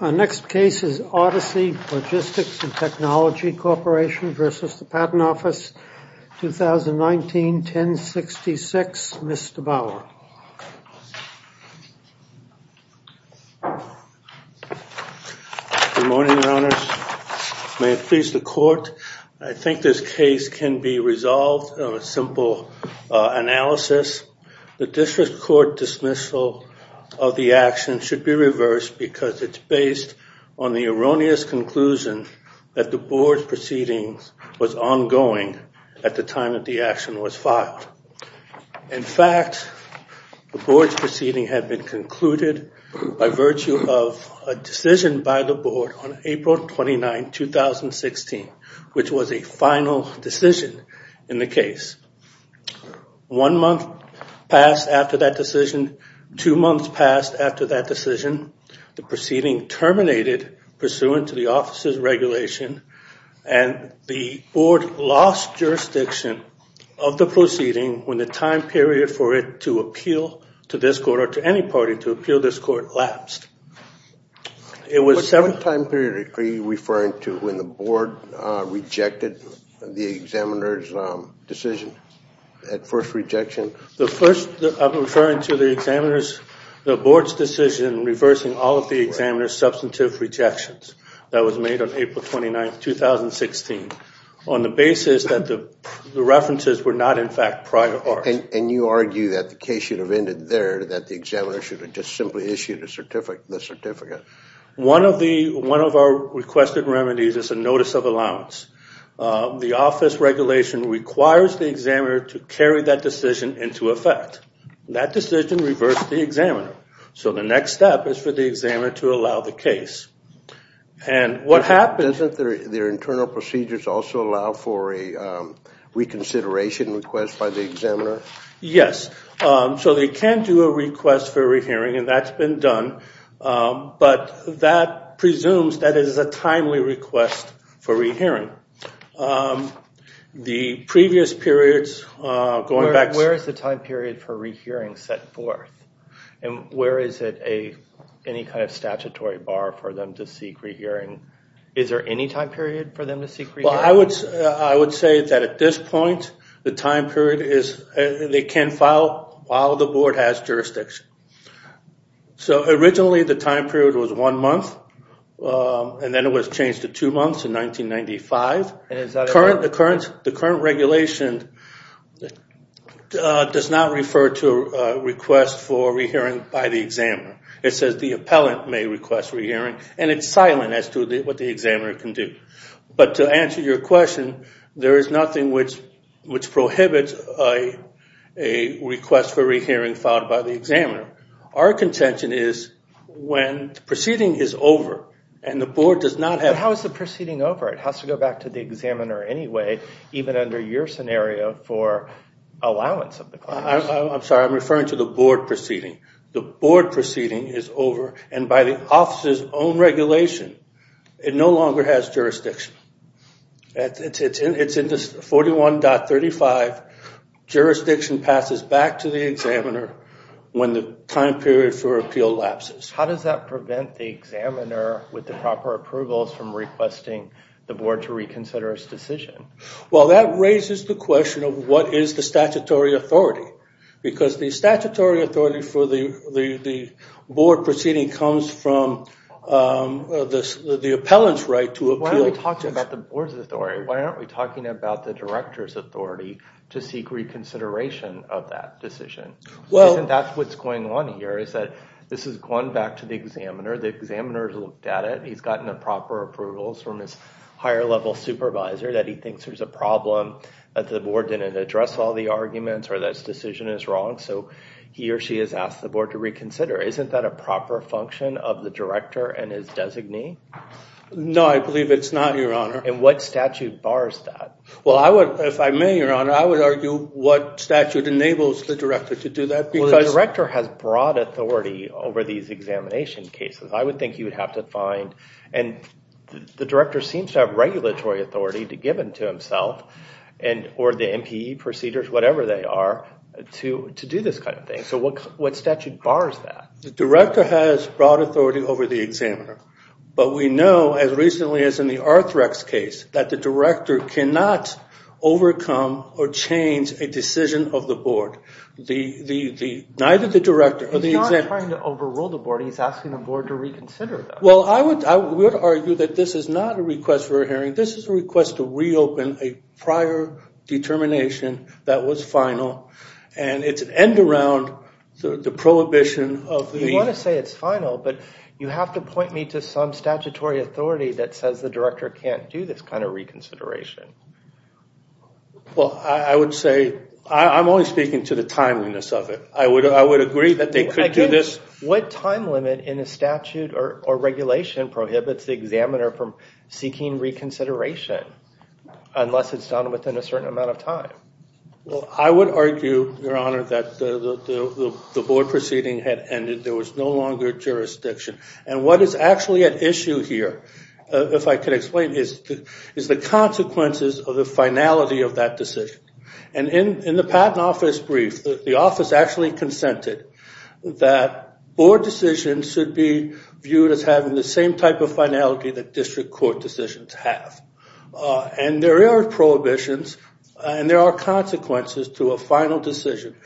The next case is Odyssey Logistics and Technology Corporation v. Patent Office 2019-1066. Mr. Bauer. Good morning, Your Honors. May it please the Court. I think this case can be resolved through a simple analysis. The District Court dismissal of the action should be reversed because it's based on the erroneous conclusion that the Board's proceedings was ongoing at the time that the action was filed. In fact, the Board's proceedings had been concluded by virtue of a decision by the Board on April 29, 2016, which was a final decision in the proceeding terminated pursuant to the Office's regulation, and the Board lost jurisdiction of the proceeding when the time period for it to appeal to this Court or to any party to appeal this Court lapsed. What time period are you referring to when the Board rejected the examiner's decision, that first rejection? I'm referring to the Board's decision reversing all of the examiner's substantive rejections that was made on April 29, 2016, on the basis that the references were not, in fact, private parts. And you argue that the case should have ended there, that the examiner should have just simply issued the certificate. One of our requested remedies is a notice of allowance. The Office regulation requires the examiner to carry that decision into effect. That decision reversed the examiner. So the next step is for the examiner to allow the case. And what happens... Doesn't their internal procedures also allow for a reconsideration request by the examiner? Yes. So they can do a request for rehearing, and that's been done. But that presumes that it is a timely request for rehearing. The previous periods... Where is the time period for rehearing set forth? And where is it a... Any kind of statutory bar for them to seek rehearing? Is there any time period for them to seek rehearing? Well, I would say that at this point, the time period is... They can file while the Board has jurisdiction. So originally, the time period was one month, and then it was changed to two months in 1995. And is that... The current regulation does not refer to a request for rehearing by the examiner. It says the appellant may request rehearing, and it's silent as to what the examiner can do. But to answer your question, there is nothing which prohibits a request for rehearing filed by the examiner. Our contention is when the proceeding is over and the Board does not have... But how is the proceeding over? It has to go back to the examiner anyway, even under your scenario for allowance of I'm sorry, I'm referring to the Board proceeding. The Board proceeding is over, and by the office's own regulation, it no longer has jurisdiction. It's in this 41.35. Jurisdiction passes back to the examiner when the time period for appeal lapses. How does that prevent the examiner with the proper approvals from requesting the Board to reconsider its decision? Well, that raises the question of what is the statutory authority? Because the statutory authority for the Board proceeding comes from the appellant's right to appeal. Why aren't we talking about the Board's authority? Why aren't we talking about the director's authority to seek reconsideration of that decision? And that's what's going on here, is that this has gone back to the examiner. The examiner's looked at it. He's gotten the proper approvals from his higher level supervisor that he thinks there's a problem that the Board didn't address all the arguments or that his decision is wrong, so he or she has asked the Board to reconsider. Isn't that a proper function of the director and his designee? No, I believe it's not, Your Honor. And what statute bars that? Well, if I may, Your Honor, I would argue what statute enables the director to do that. Well, the director has broad authority over these examination cases. I would think he would have to find, and the director seems to have regulatory authority given to himself, or the MPE procedures, whatever they are, to do this kind of thing. So what statute bars that? The director has broad authority over the examiner. But we know, as recently as in the Arthrex case, that the director cannot overcome or change a decision of the Board. Neither the director or the examiner... He's not trying to overrule the Board. He's asking the Board to reconsider them. Well, I would argue that this is not a request for a hearing. This is a request to reopen a prior determination that was final, and it's an end around the prohibition of the... You want to say it's final, but you have to point me to some statutory authority that says the director can't do this kind of reconsideration. Well, I would say... I'm only speaking to the timeliness of it. I would say the time limit in a statute or regulation prohibits the examiner from seeking reconsideration unless it's done within a certain amount of time. Well, I would argue, Your Honor, that the Board proceeding had ended. There was no longer jurisdiction. And what is actually at issue here, if I could explain, is the consequences of the finality of that decision. And in the Patent Office brief, the office actually consented that Board decisions should be viewed as having the same type of finality that district court decisions have. And there are prohibitions, and there are consequences to a final decision.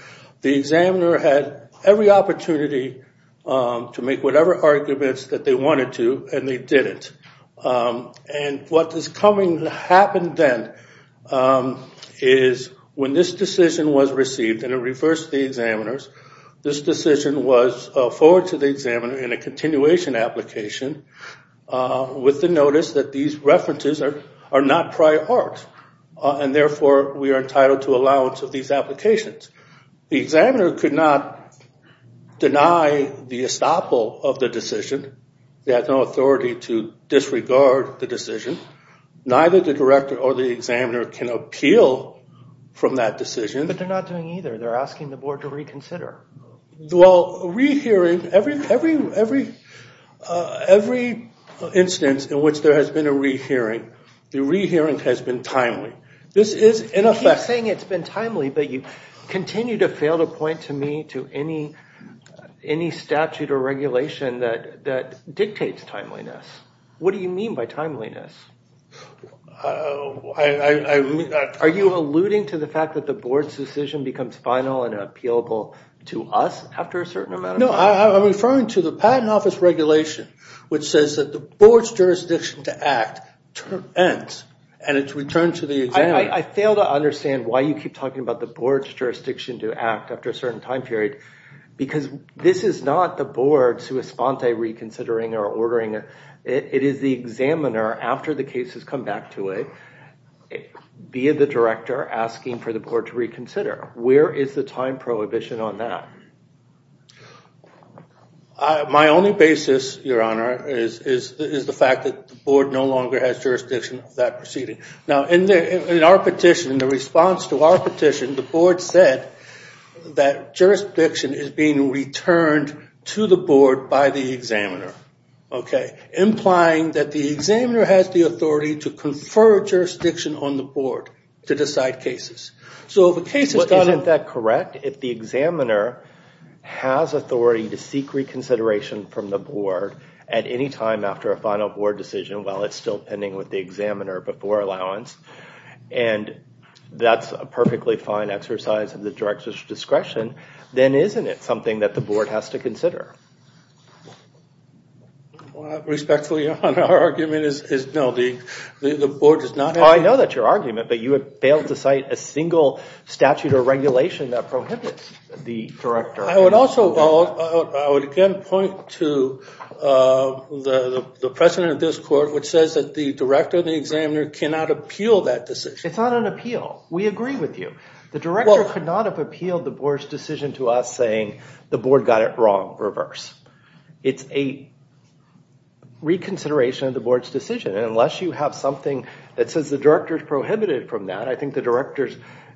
The examiner had every opportunity to make whatever arguments that they wanted to, and they didn't. And what is coming to happen then is when this decision was received, and it reversed the examiner's, this decision was forwarded to the examiner in a continuation application with the notice that these references are not prior art. And therefore, we are entitled to allowance of these applications. The examiner could not deny the estoppel of the decision. They had no authority to disregard the decision. Neither the director or the examiner can appeal from that decision. But they're not doing either. They're asking the Board to reconsider. Well, rehearing, every instance in which there has been a rehearing, the rehearing has been timely. This is in effect. You keep saying it's been timely, but you continue to fail to point to me to any statute or regulation that dictates timeliness. What do you mean by timeliness? Are you alluding to the fact that the Board's decision becomes final and appealable to us after a certain amount of time? No, I'm referring to the Patent Office regulation, which says that the Board's jurisdiction to act ends, and it's returned to the examiner. I fail to understand why you keep talking about the Board's jurisdiction to act after a certain time period, because this is not the Board sui sponte reconsidering or ordering it. It is the examiner, after the case has come back to it, via the director, asking for the Board to reconsider. Where is the time prohibition on that? My only basis, Your Honor, is the fact that the Board no longer has jurisdiction of that In the response to our petition, the Board said that jurisdiction is being returned to the Board by the examiner, implying that the examiner has the authority to confer jurisdiction on the Board to decide cases. Isn't that correct? If the examiner has authority to seek reconsideration from the Board at any time after a final Board decision, while it's still pending with the Board, and that's a perfectly fine exercise of the director's discretion, then isn't it something that the Board has to consider? Respectfully, Your Honor, our argument is no, the Board does not have... I know that's your argument, but you have failed to cite a single statute or regulation that prohibits the director. I would also, I would again point to the precedent of this Court, which says that the director and the examiner cannot appeal that decision. It's not an appeal. We agree with you. The director could not have appealed the Board's decision to us saying the Board got it wrong, reverse. It's a reconsideration of the Board's decision, and unless you have something that says the director's prohibited from that, I think the director's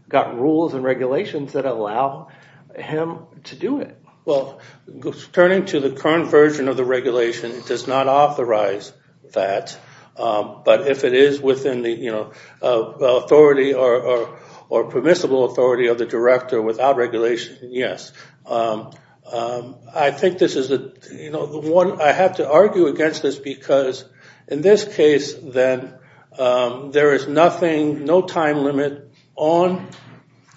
got rules and regulations that allow him to do it. Well, turning to the current version of the regulation, it does not authorize that, but if it is within the authority or permissible authority of the director without regulation, yes. I think this is the one I have to argue against this because in this case, then, there is nothing, no time limit on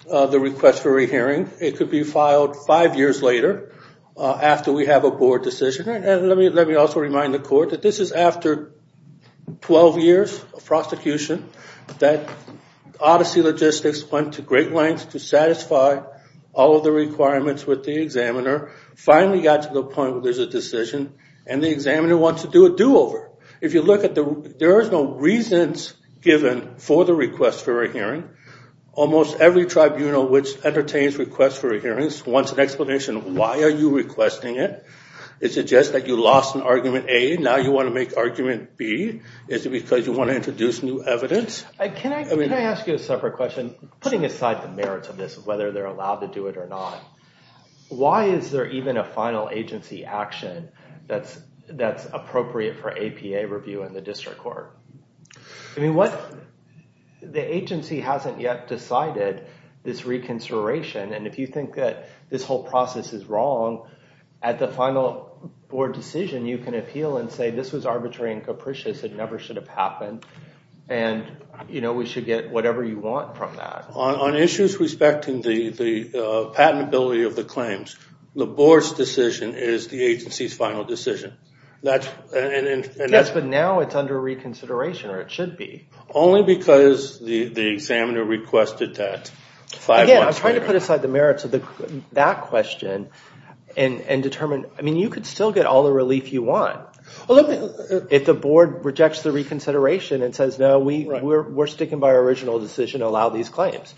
the request for a re-hearing. It could be filed five years later after we have a Board decision. Let me also remind the Court that this is after 12 years of prosecution, that Odyssey Logistics went to great lengths to satisfy all of the requirements with the examiner, finally got to the point where there's a decision, and the examiner wants to do a do-over. If you look at the, there is no reasons given for the request for a hearing. Almost every tribunal which entertains requests for a hearing wants an explanation. Why are you requesting it? Is it just that you lost in argument A, now you want to make argument B? Is it because you want to introduce new evidence? Can I ask you a separate question? Putting aside the merits of this, whether they're allowed to do it or not, why is there even a final agency action that's appropriate for APA review in the District Court? I mean, what, the agency hasn't yet decided this reconsideration, and if you think that this whole process is wrong, at the final Board decision, you can appeal and say this was arbitrary and capricious, it never should have happened, and we should get whatever you want from that. On issues respecting the patentability of the claims, the Board's decision is the agency's final decision. Yes, but now it's under reconsideration, or it should be. Only because the examiner requested that five months later. Again, I'm trying to put aside the merits of that question and determine. I mean, you could still get all the relief you want if the Board rejects the reconsideration and says, no, we're sticking by our original decision to allow these claims.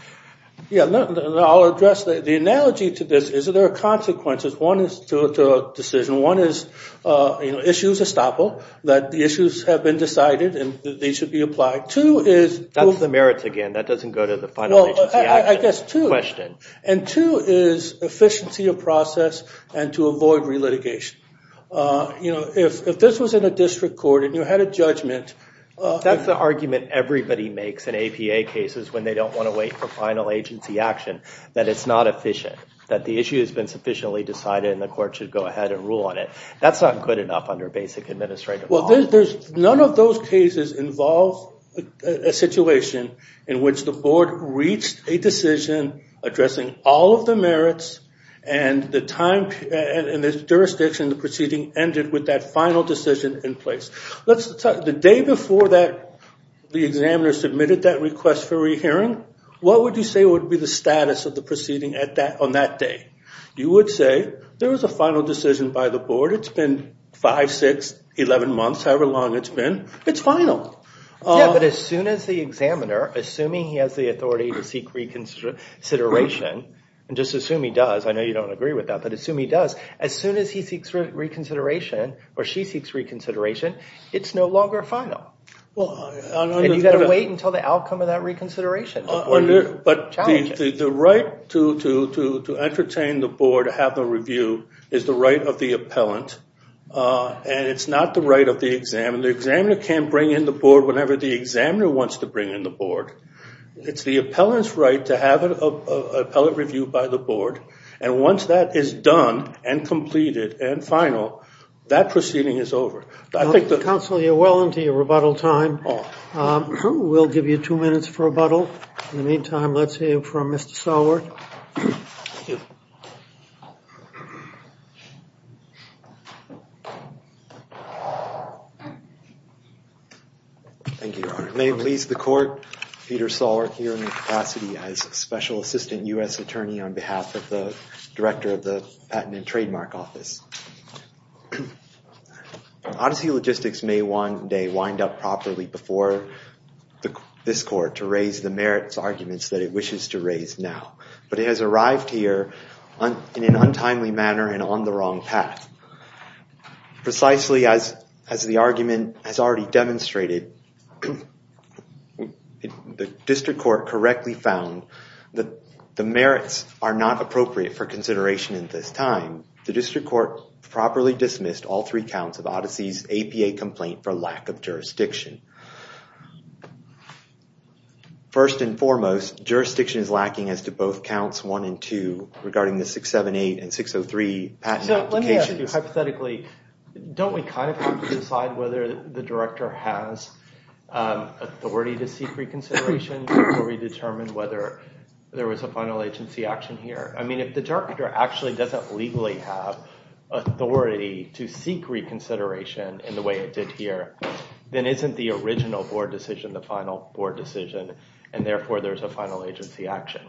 Yeah, I'll address that. The analogy to this is that there are consequences. One is to a decision. One is, you know, issues estoppel, that the issues have been decided and they should be applied. That's the merits again. That doesn't go to the final agency action question. And two is efficiency of process and to avoid re-litigation. You know, if this was in a district court and you had a judgment. That's the argument everybody makes in APA cases when they don't want to wait for final agency action, that it's not efficient, that the issue has been sufficiently decided and the court should go ahead and rule on it. That's not good enough under basic administrative law. Well, none of those cases involve a situation in which the Board reached a decision addressing all of the merits and the time and the jurisdiction the proceeding ended with that final decision in place. The day before the examiner submitted that request for rehearing, what would you say would be the status of the proceeding on that day? You would say there was a final decision by the Board. It's been five, six, eleven months, however long it's been. It's final. Yeah, but as soon as the examiner, assuming he has the authority to seek reconsideration, and just assume he does. I know you don't agree with that, but assume he does. As soon as he seeks reconsideration or she seeks reconsideration, it's no longer final. Well, you got to wait until the outcome of that reconsideration. But the right to entertain the Board to have the review is the right of the appellant, and it's not the right of the examiner. The examiner can't bring in the Board whenever the examiner wants to bring in the Board. It's the appellant's right to have an appellate review by the Board, and once that is done and completed and final, that proceeding is over. Counsel, you're well into your rebuttal time. We'll give you two minutes for rebuttal. In the meantime, let's hear from Mr. Sowert. Thank you. May it please the Court, Peter Sowert here in the capacity as Special Assistant U.S. Attorney on behalf of the Director of the Patent and Trademark Office. Odyssey Logistics may one day wind up properly before this Court to raise the merits arguments that it wishes to raise now, but it has arrived here in an untimely manner and on the wrong path. Precisely as the argument has already demonstrated, the District Court correctly found that the merits are not appropriate for consideration in this time. The District Court properly dismissed all three counts of Odyssey's APA complaint for lack of jurisdictions lacking as to both counts 1 and 2 regarding the 678 and 603 patent applications. Hypothetically, don't we kind of have to decide whether the Director has authority to seek reconsideration before we determine whether there was a final agency action here? I mean, if the Director actually doesn't legally have authority to seek reconsideration in the way it did here, then isn't the original Board decision the final Board decision, and therefore there's a final agency action?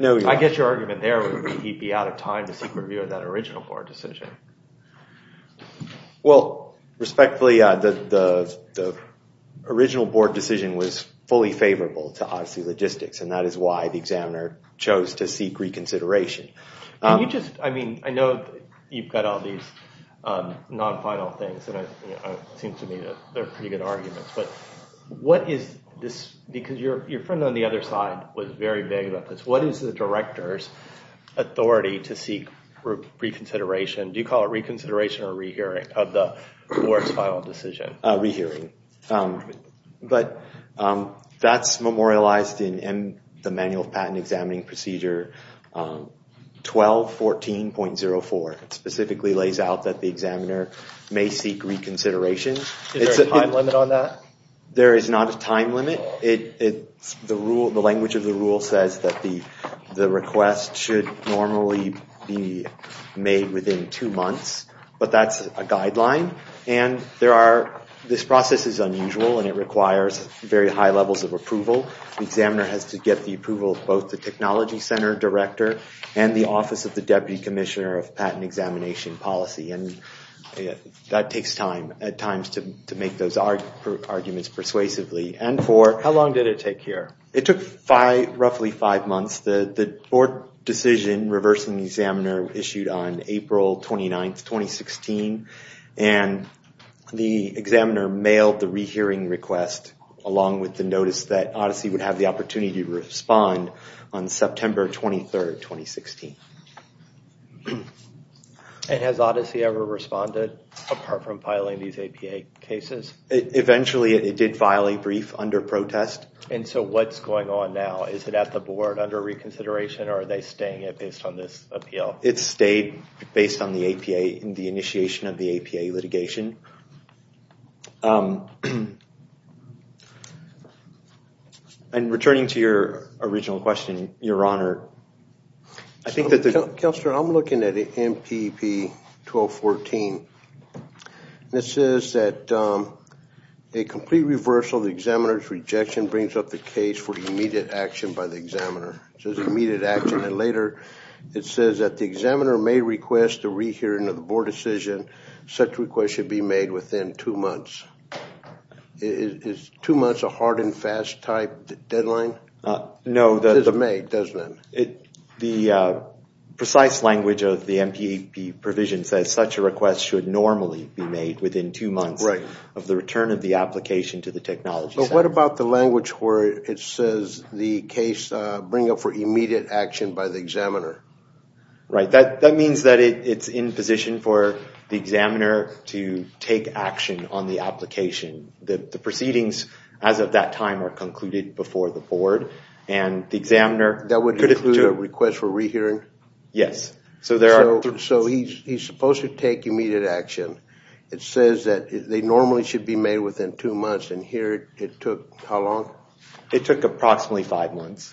I guess your argument there would be he'd be out of time to seek review of that original Board decision. Well, respectfully, the original Board decision was fully favorable to Odyssey Logistics, and that is why the examiner chose to seek reconsideration. I mean, I know you've got all these non-final things, and it seems to me that they're pretty good arguments, but what is this? Because your friend on the other side was very vague about this. What is the Director's authority to seek reconsideration? Do you call it reconsideration or rehearing of the awards final decision? Rehearing, but that's memorialized in the Manual of Patent Examining Procedure 1214.04. It specifically lays out that the examiner may seek reconsideration. Is there a time limit on that? There is not a time limit. The language of the rule says that the request should normally be made within two months, but that's a guideline, and this process is unusual, and it requires very high levels of approval. The examiner has to get the approval of both the Technology Center Director and the Office of the Deputy Commissioner of to make those arguments persuasively. And for how long did it take here? It took roughly five months. The board decision reversing the examiner issued on April 29, 2016, and the examiner mailed the rehearing request along with the notice that ODYSSEY would have the opportunity to respond on September 23, 2016. And has ODYSSEY ever responded apart from filing these APA cases? Eventually, it did file a brief under protest. And so what's going on now? Is it at the board under reconsideration, or are they staying based on this appeal? It stayed based on the APA and the board decision. And returning to your original question, your honor, I think that the... Counselor, I'm looking at the MPP-1214. It says that a complete reversal of the examiner's rejection brings up the case for immediate action by the examiner. It says immediate action, and later it says that the examiner may request the rehearing of the board decision. Such request should be made within two months. Is two months a hard and fast type deadline? No, the... It is made, doesn't it? The precise language of the MPP provision says such a request should normally be made within two months of the return of the application to the technology center. But what about the language where it says the case bring up for immediate action by the examiner? Right, that means that it's in position for the examiner to take action on the application. The proceedings as of that time are concluded before the board, and the examiner... That would include a request for rehearing? Yes, so there are... So he's supposed to take immediate action. It says that they normally should be made within two months, and here it took how long? It took approximately five months.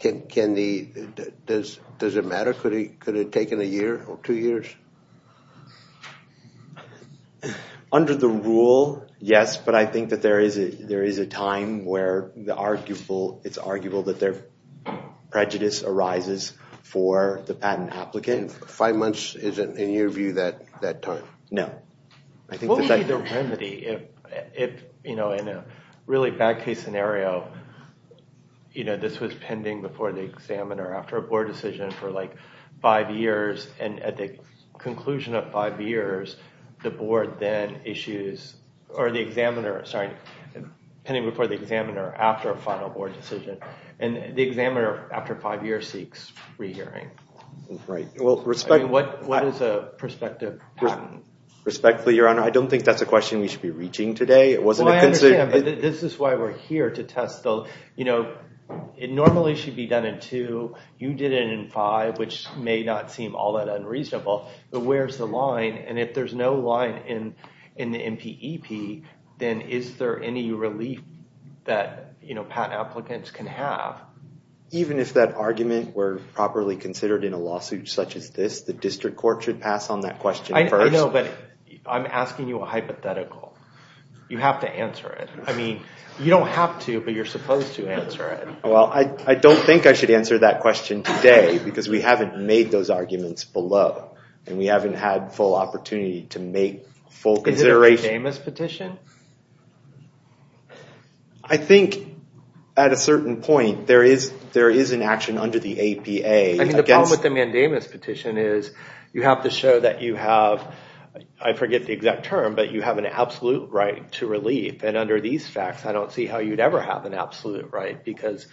Does it matter? Could it have taken a year or two years? Under the rule, yes, but I think that there is a time where it's arguable that their prejudice arises for the patent applicant. Five months isn't, in your view, that time? No. What would be the remedy if, in a really bad case scenario, this was pending before the examiner after a board decision for five years, and at the conclusion of five years, the board then issues... Or the examiner, sorry, pending before the examiner after a final board decision, and the examiner after five years seeks rehearing? Right. What is a prospective patent? Respectfully, Your Honor, I don't think that's a question we should be reaching today. It wasn't... Well, I understand, but this is why we're here to test. It normally should be done in two. You did it in five, which may not seem all that unreasonable, but where's the line? And if there's no line in the MPEP, then is there any relief that patent applicants can have? Even if that argument were properly considered in a lawsuit such as this, the district court should pass on that question first. I know, but I'm asking you a hypothetical. You have to answer it. I mean, you don't have to, but you're supposed to answer it. Well, I don't think I should answer that question today because we haven't made those arguments below, and we haven't had full opportunity to make full consideration. Is it a James petition? I think, at a certain point, there is an action under the APA. I mean, the problem with the mandamus petition is you have to show that you have, I forget the exact term, but you have an absolute right to relief. And under these facts, I don't see how you'd ever have an absolute right because,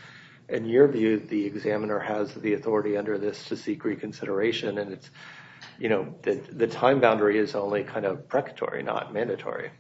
in your view, the examiner has the authority under this to seek reconsideration, and it's, you know, the time boundary is only kind of precary, not mandatory.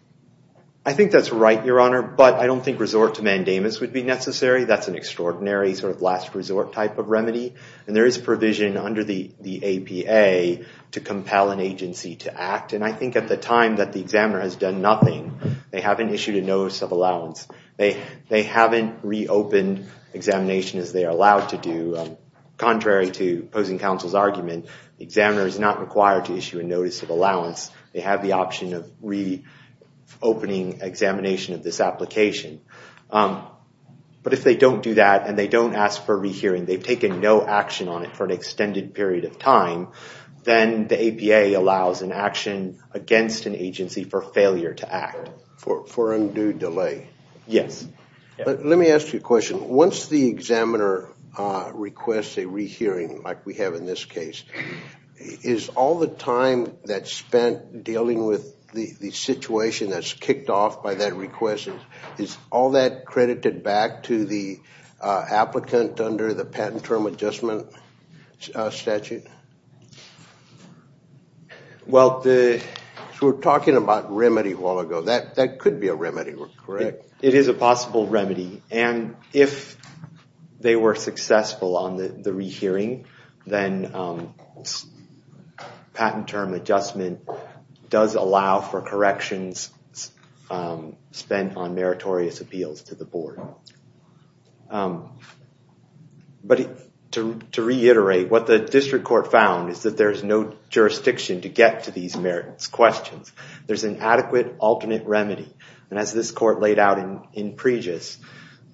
I think that's right, Your Honor, but I don't think resort to mandamus would be necessary. That's an extraordinary sort of last resort type of remedy, and there is provision under the APA to compel an agency to act, and I think at the time that the examiner has done nothing, they haven't issued a notice of allowance. They haven't reopened examination as they are allowed to do. Contrary to opposing counsel's argument, the examiner is not required to issue a notice of allowance. They have the option of reopening examination of this application. But if they don't do that, and they don't ask for a rehearing, they've taken no action on it for an extended period of time, then the APA allows an action against an agency for failure to act. For undue delay? Yes. Let me ask you a question. Once the examiner requests a rehearing, like we have in this case, is all the time that's spent dealing with the situation that's kicked off by that request, is all that credited back to the applicant under the patent term adjustment statute? Well, we were talking about remedy a while ago. That could be a remedy, correct? It is a possible remedy. And if they were successful on the rehearing, then patent term adjustment does allow for corrections spent on meritorious appeals to the board. But to reiterate, what the district court found is that there is no jurisdiction to get to these questions. There's an adequate alternate remedy. And as this court laid out in previous,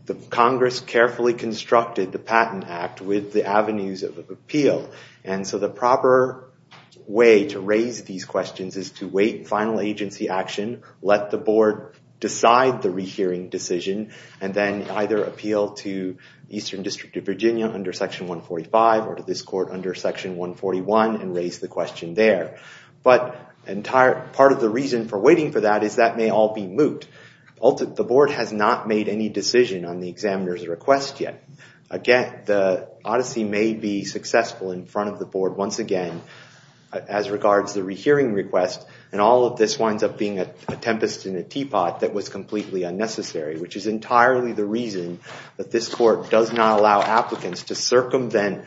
the Congress carefully constructed the Patent Act with the avenues of appeal. And so the proper way to raise these questions is to wait final agency action, let the board decide the rehearing decision, and then either appeal to Eastern District of Virginia under Section 145 or to this court under Section 141 and raise the question there. But part of the reason for waiting for that is that may all be moot. The board has not made any decision on the examiner's request yet. Again, the odyssey may be successful in front of the board, once again, as regards the rehearing request. And all of this winds up being a tempest in a teapot that was completely unnecessary, which is entirely the reason that this court does not allow applicants to circumvent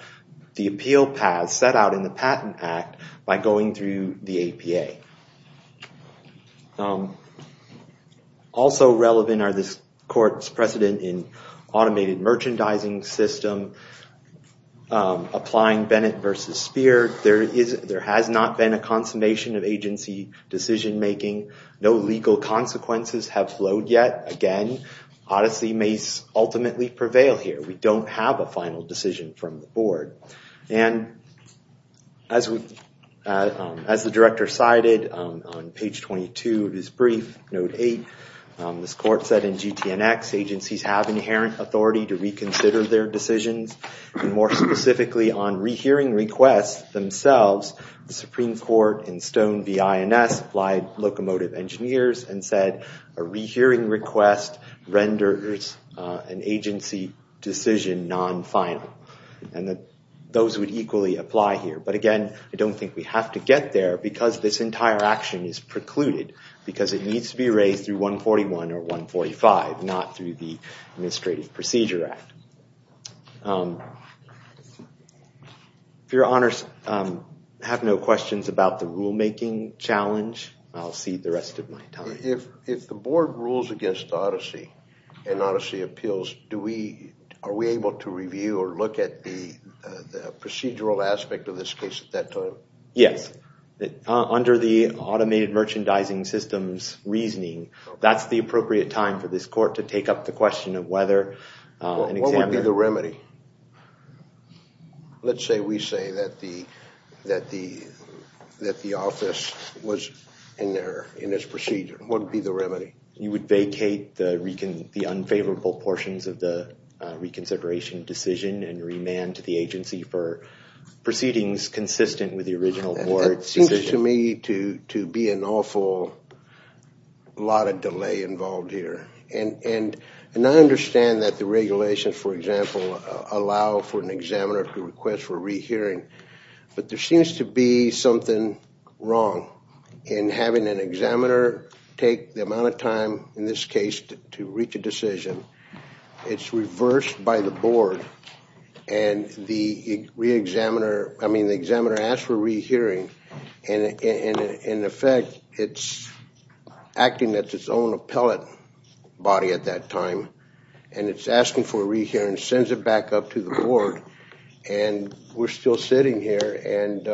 the appeal path set out in the Patent Act by going through the APA. Also relevant are this court's precedent in automated merchandising system, applying Bennett versus Spear. There has not been a consummation of agency decision making. No legal consequences have flowed yet. Again, odyssey may ultimately prevail here. We don't have a final decision from the board. And as the director cited on page 22 of his brief, note 8, this court said in GTNX, agencies have inherent authority to reconsider their decisions. And more specifically on rehearing requests themselves, the Supreme Court in Stone v. INS applied locomotive engineers and said a rehearing request renders an agency decision non-final. And that those would equally apply here. But again, I don't think we have to get there because this entire action is precluded, because it needs to be raised through 141 or 145, not through the Administrative Procedure Act. If your honors have no questions about the rulemaking challenge, I'll cede the rest of my time. If the board rules against odyssey and odyssey appeals, are we able to review or look at the procedural aspect of this case at that time? Yes. Under the automated merchandising systems reasoning, that's the appropriate time for this court to take up the question of whether an examiner... What would be the remedy? Let's say we say that the office was in error in this procedure. What would be the remedy? You would vacate the unfavorable portions of the reconsideration decision and remand to the agency for proceedings consistent with the original board's decision. That seems to me to be an awful lot of delay involved here. And I understand that the regulations, for example, allow for an examiner to request for re-hearing, but there seems to be something wrong in having an examiner take the amount of time in this case to reach a decision. It's reversed by the board and the re-examiner, I mean the examiner asks for re-hearing and in effect it's acting at its own appellate body at that time and it's asking for re-hearing and sends it back up to the board and we're still sitting here and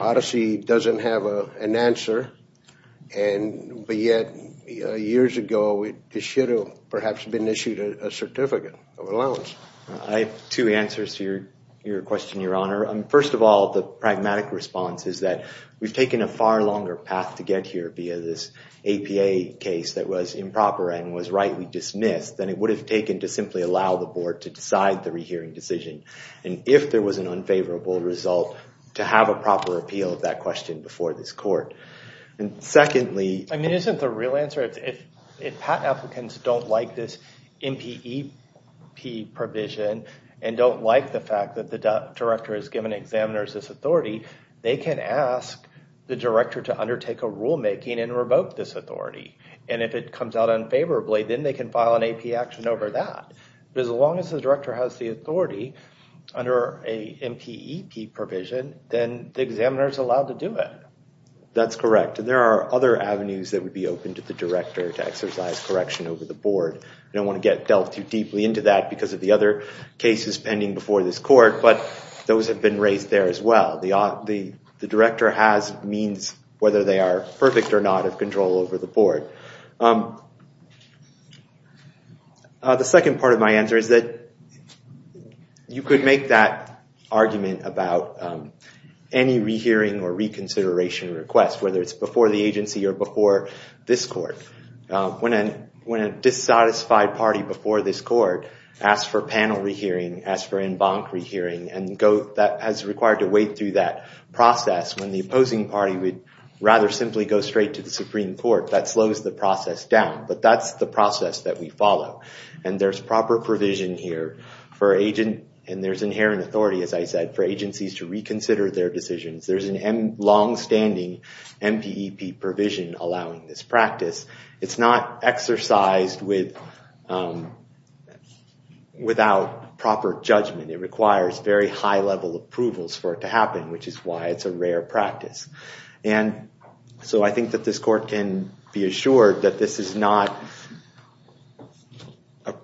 odyssey doesn't have an answer and but yet years ago it should have perhaps been issued a certificate of allowance. I have two answers to your question, your honor. First of all, the pragmatic response is that we've taken a far longer path to get here via this APA case that was improper and was rightly dismissed than it would have taken to simply allow the board to decide the re-hearing decision and if there was an unfavorable result to have a proper appeal of that question before this court. And secondly, I mean isn't the real answer if patent applicants don't like this MPEP provision and don't like the fact that the director has given examiners this authority, they can ask the director to undertake a rulemaking and revoke this authority and if it comes out unfavorably then they can file an AP action over that. But as long as the director has the authority under a MPEP provision then the examiner is allowed to do it. That's correct. There are other avenues that would be open to the director to exercise correction over the board. I don't cases pending before this court, but those have been raised there as well. The director has means whether they are perfect or not of control over the board. The second part of my answer is that you could make that argument about any re-hearing or reconsideration request, whether it's before the agency or before this court. When a dissatisfied party before this court asks for panel re-hearing, asks for en banc re-hearing, and that has required to wait through that process when the opposing party would rather simply go straight to the Supreme Court, that slows the process down. But that's the process that we follow. And there's proper provision here for agent and there's inherent authority, as I said, for agencies to reconsider their decisions. There's a long-standing MPEP provision allowing this practice. It's not exercised without proper judgment. It requires very high-level approvals for it to happen, which is why it's a rare practice. And so I think that this court can be assured that this is not an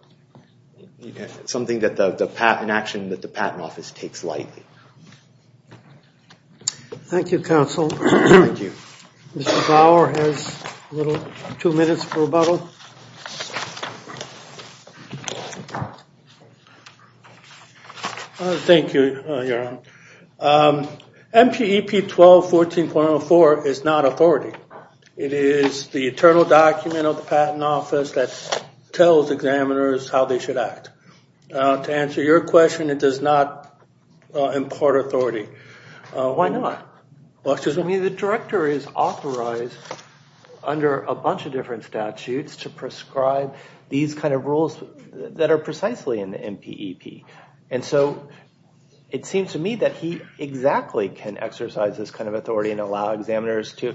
action that the Patent Office takes lightly. Thank you, counsel. Thank you. Mr. Bauer has a little two minutes for rebuttal. Thank you, Your Honor. MPEP 1214.04 is not authority. It is the eternal document of the Patent Office that tells examiners how they should act. To answer your question, it does not impart authority. Why not? I mean, the director is authorized under a bunch of different statutes to prescribe these kind of rules that are precisely in the MPEP. And so it seems to me that he exactly can exercise this kind of authority and allow examiners to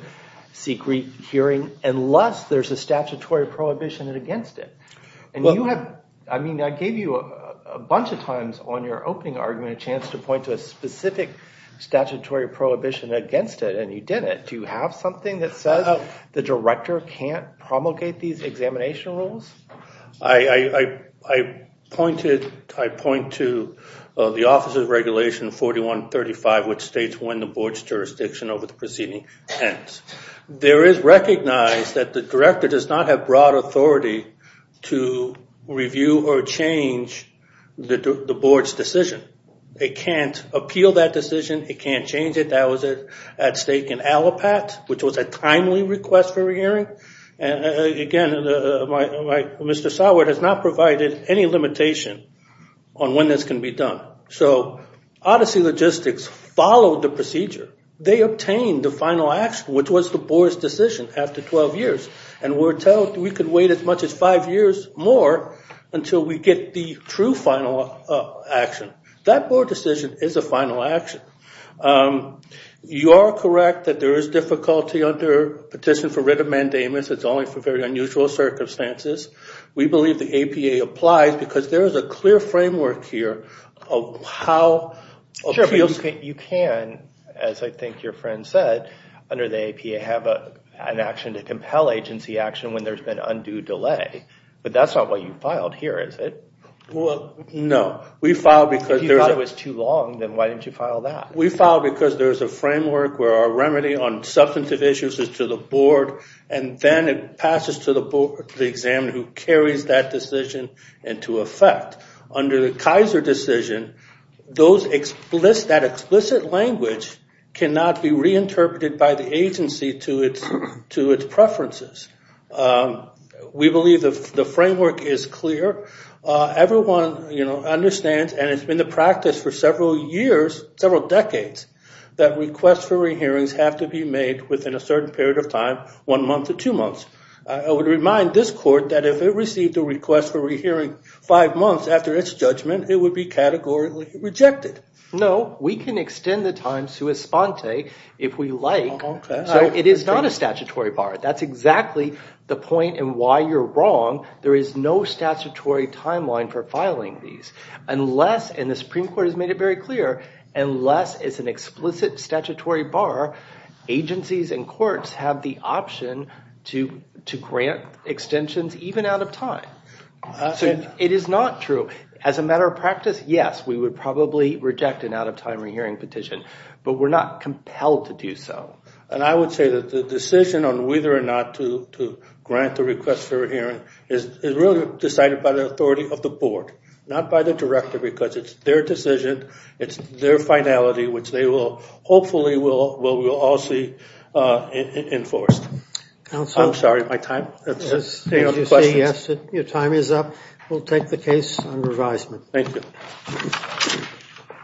seek rehearing unless there's a statutory prohibition against it. And you have, I mean, I gave you a bunch of times on your opening argument a chance to point to a specific statutory prohibition against it, and you didn't. Do you have something that says the director can't promulgate these examination rules? I point to the Office of Regulation 4135, which states when the board's jurisdiction over the proceeding ends. There is recognized that the director does not have broad authority to review or change the board's decision. They can't appeal that decision. It can't change it. That was at stake in Allapatt, which was a timely request for a hearing. And again, Mr. Sawert has not provided any limitation on when this can be done. So Odyssey Logistics followed the procedure. They obtained the final action, which was the board's decision after 12 years. And we're told we can wait as much as five years more until we get the true final action. That board decision is a final action. You are correct that there is difficulty under petition for writ of mandamus. It's only for very unusual circumstances. We believe the APA applies because there is a clear framework here of how appeals... Sure, but you can, as I think your friend said, under the APA, have an action to compel agency action when there's been undue delay. But that's not what you filed here, is it? Well, no. We filed because... If you thought it was too long, then why didn't you file that? We filed because there's a framework where our remedy on substantive issues is to the board, and then it passes to the board, the examiner who carries that decision into effect. Under the Kaiser decision, that explicit language cannot be reinterpreted by the agency to its preferences. We believe the framework is clear. Everyone understands, and it's been the practice for several years, several decades, that requests for re-hearings have to be made within a certain period of time, one month to two months. I would remind this court that if it received a request for re-hearing five months after its judgment, it would be categorically rejected. No, we can extend the time sua sponte if we like. So it is not a statutory bar. That's exactly the point and why you're wrong. There is no statutory timeline for filing these. Unless, and the Supreme Court has made it very clear, unless it's an explicit statutory bar, agencies and courts have the option to grant extensions even out of time. So it is not true. As a matter of practice, yes, we would probably reject an out-of-time re-hearing petition, but we're not compelled to do so. And I would say that the decision on whether or not to grant the request for a hearing is really decided by the authority of the board, not by the director, because it's their decision, it's their finality, which they will hopefully, we'll all see enforced. Counselor? I'm sorry, my time? Your time is up. We'll take the case on revisement. Thank you.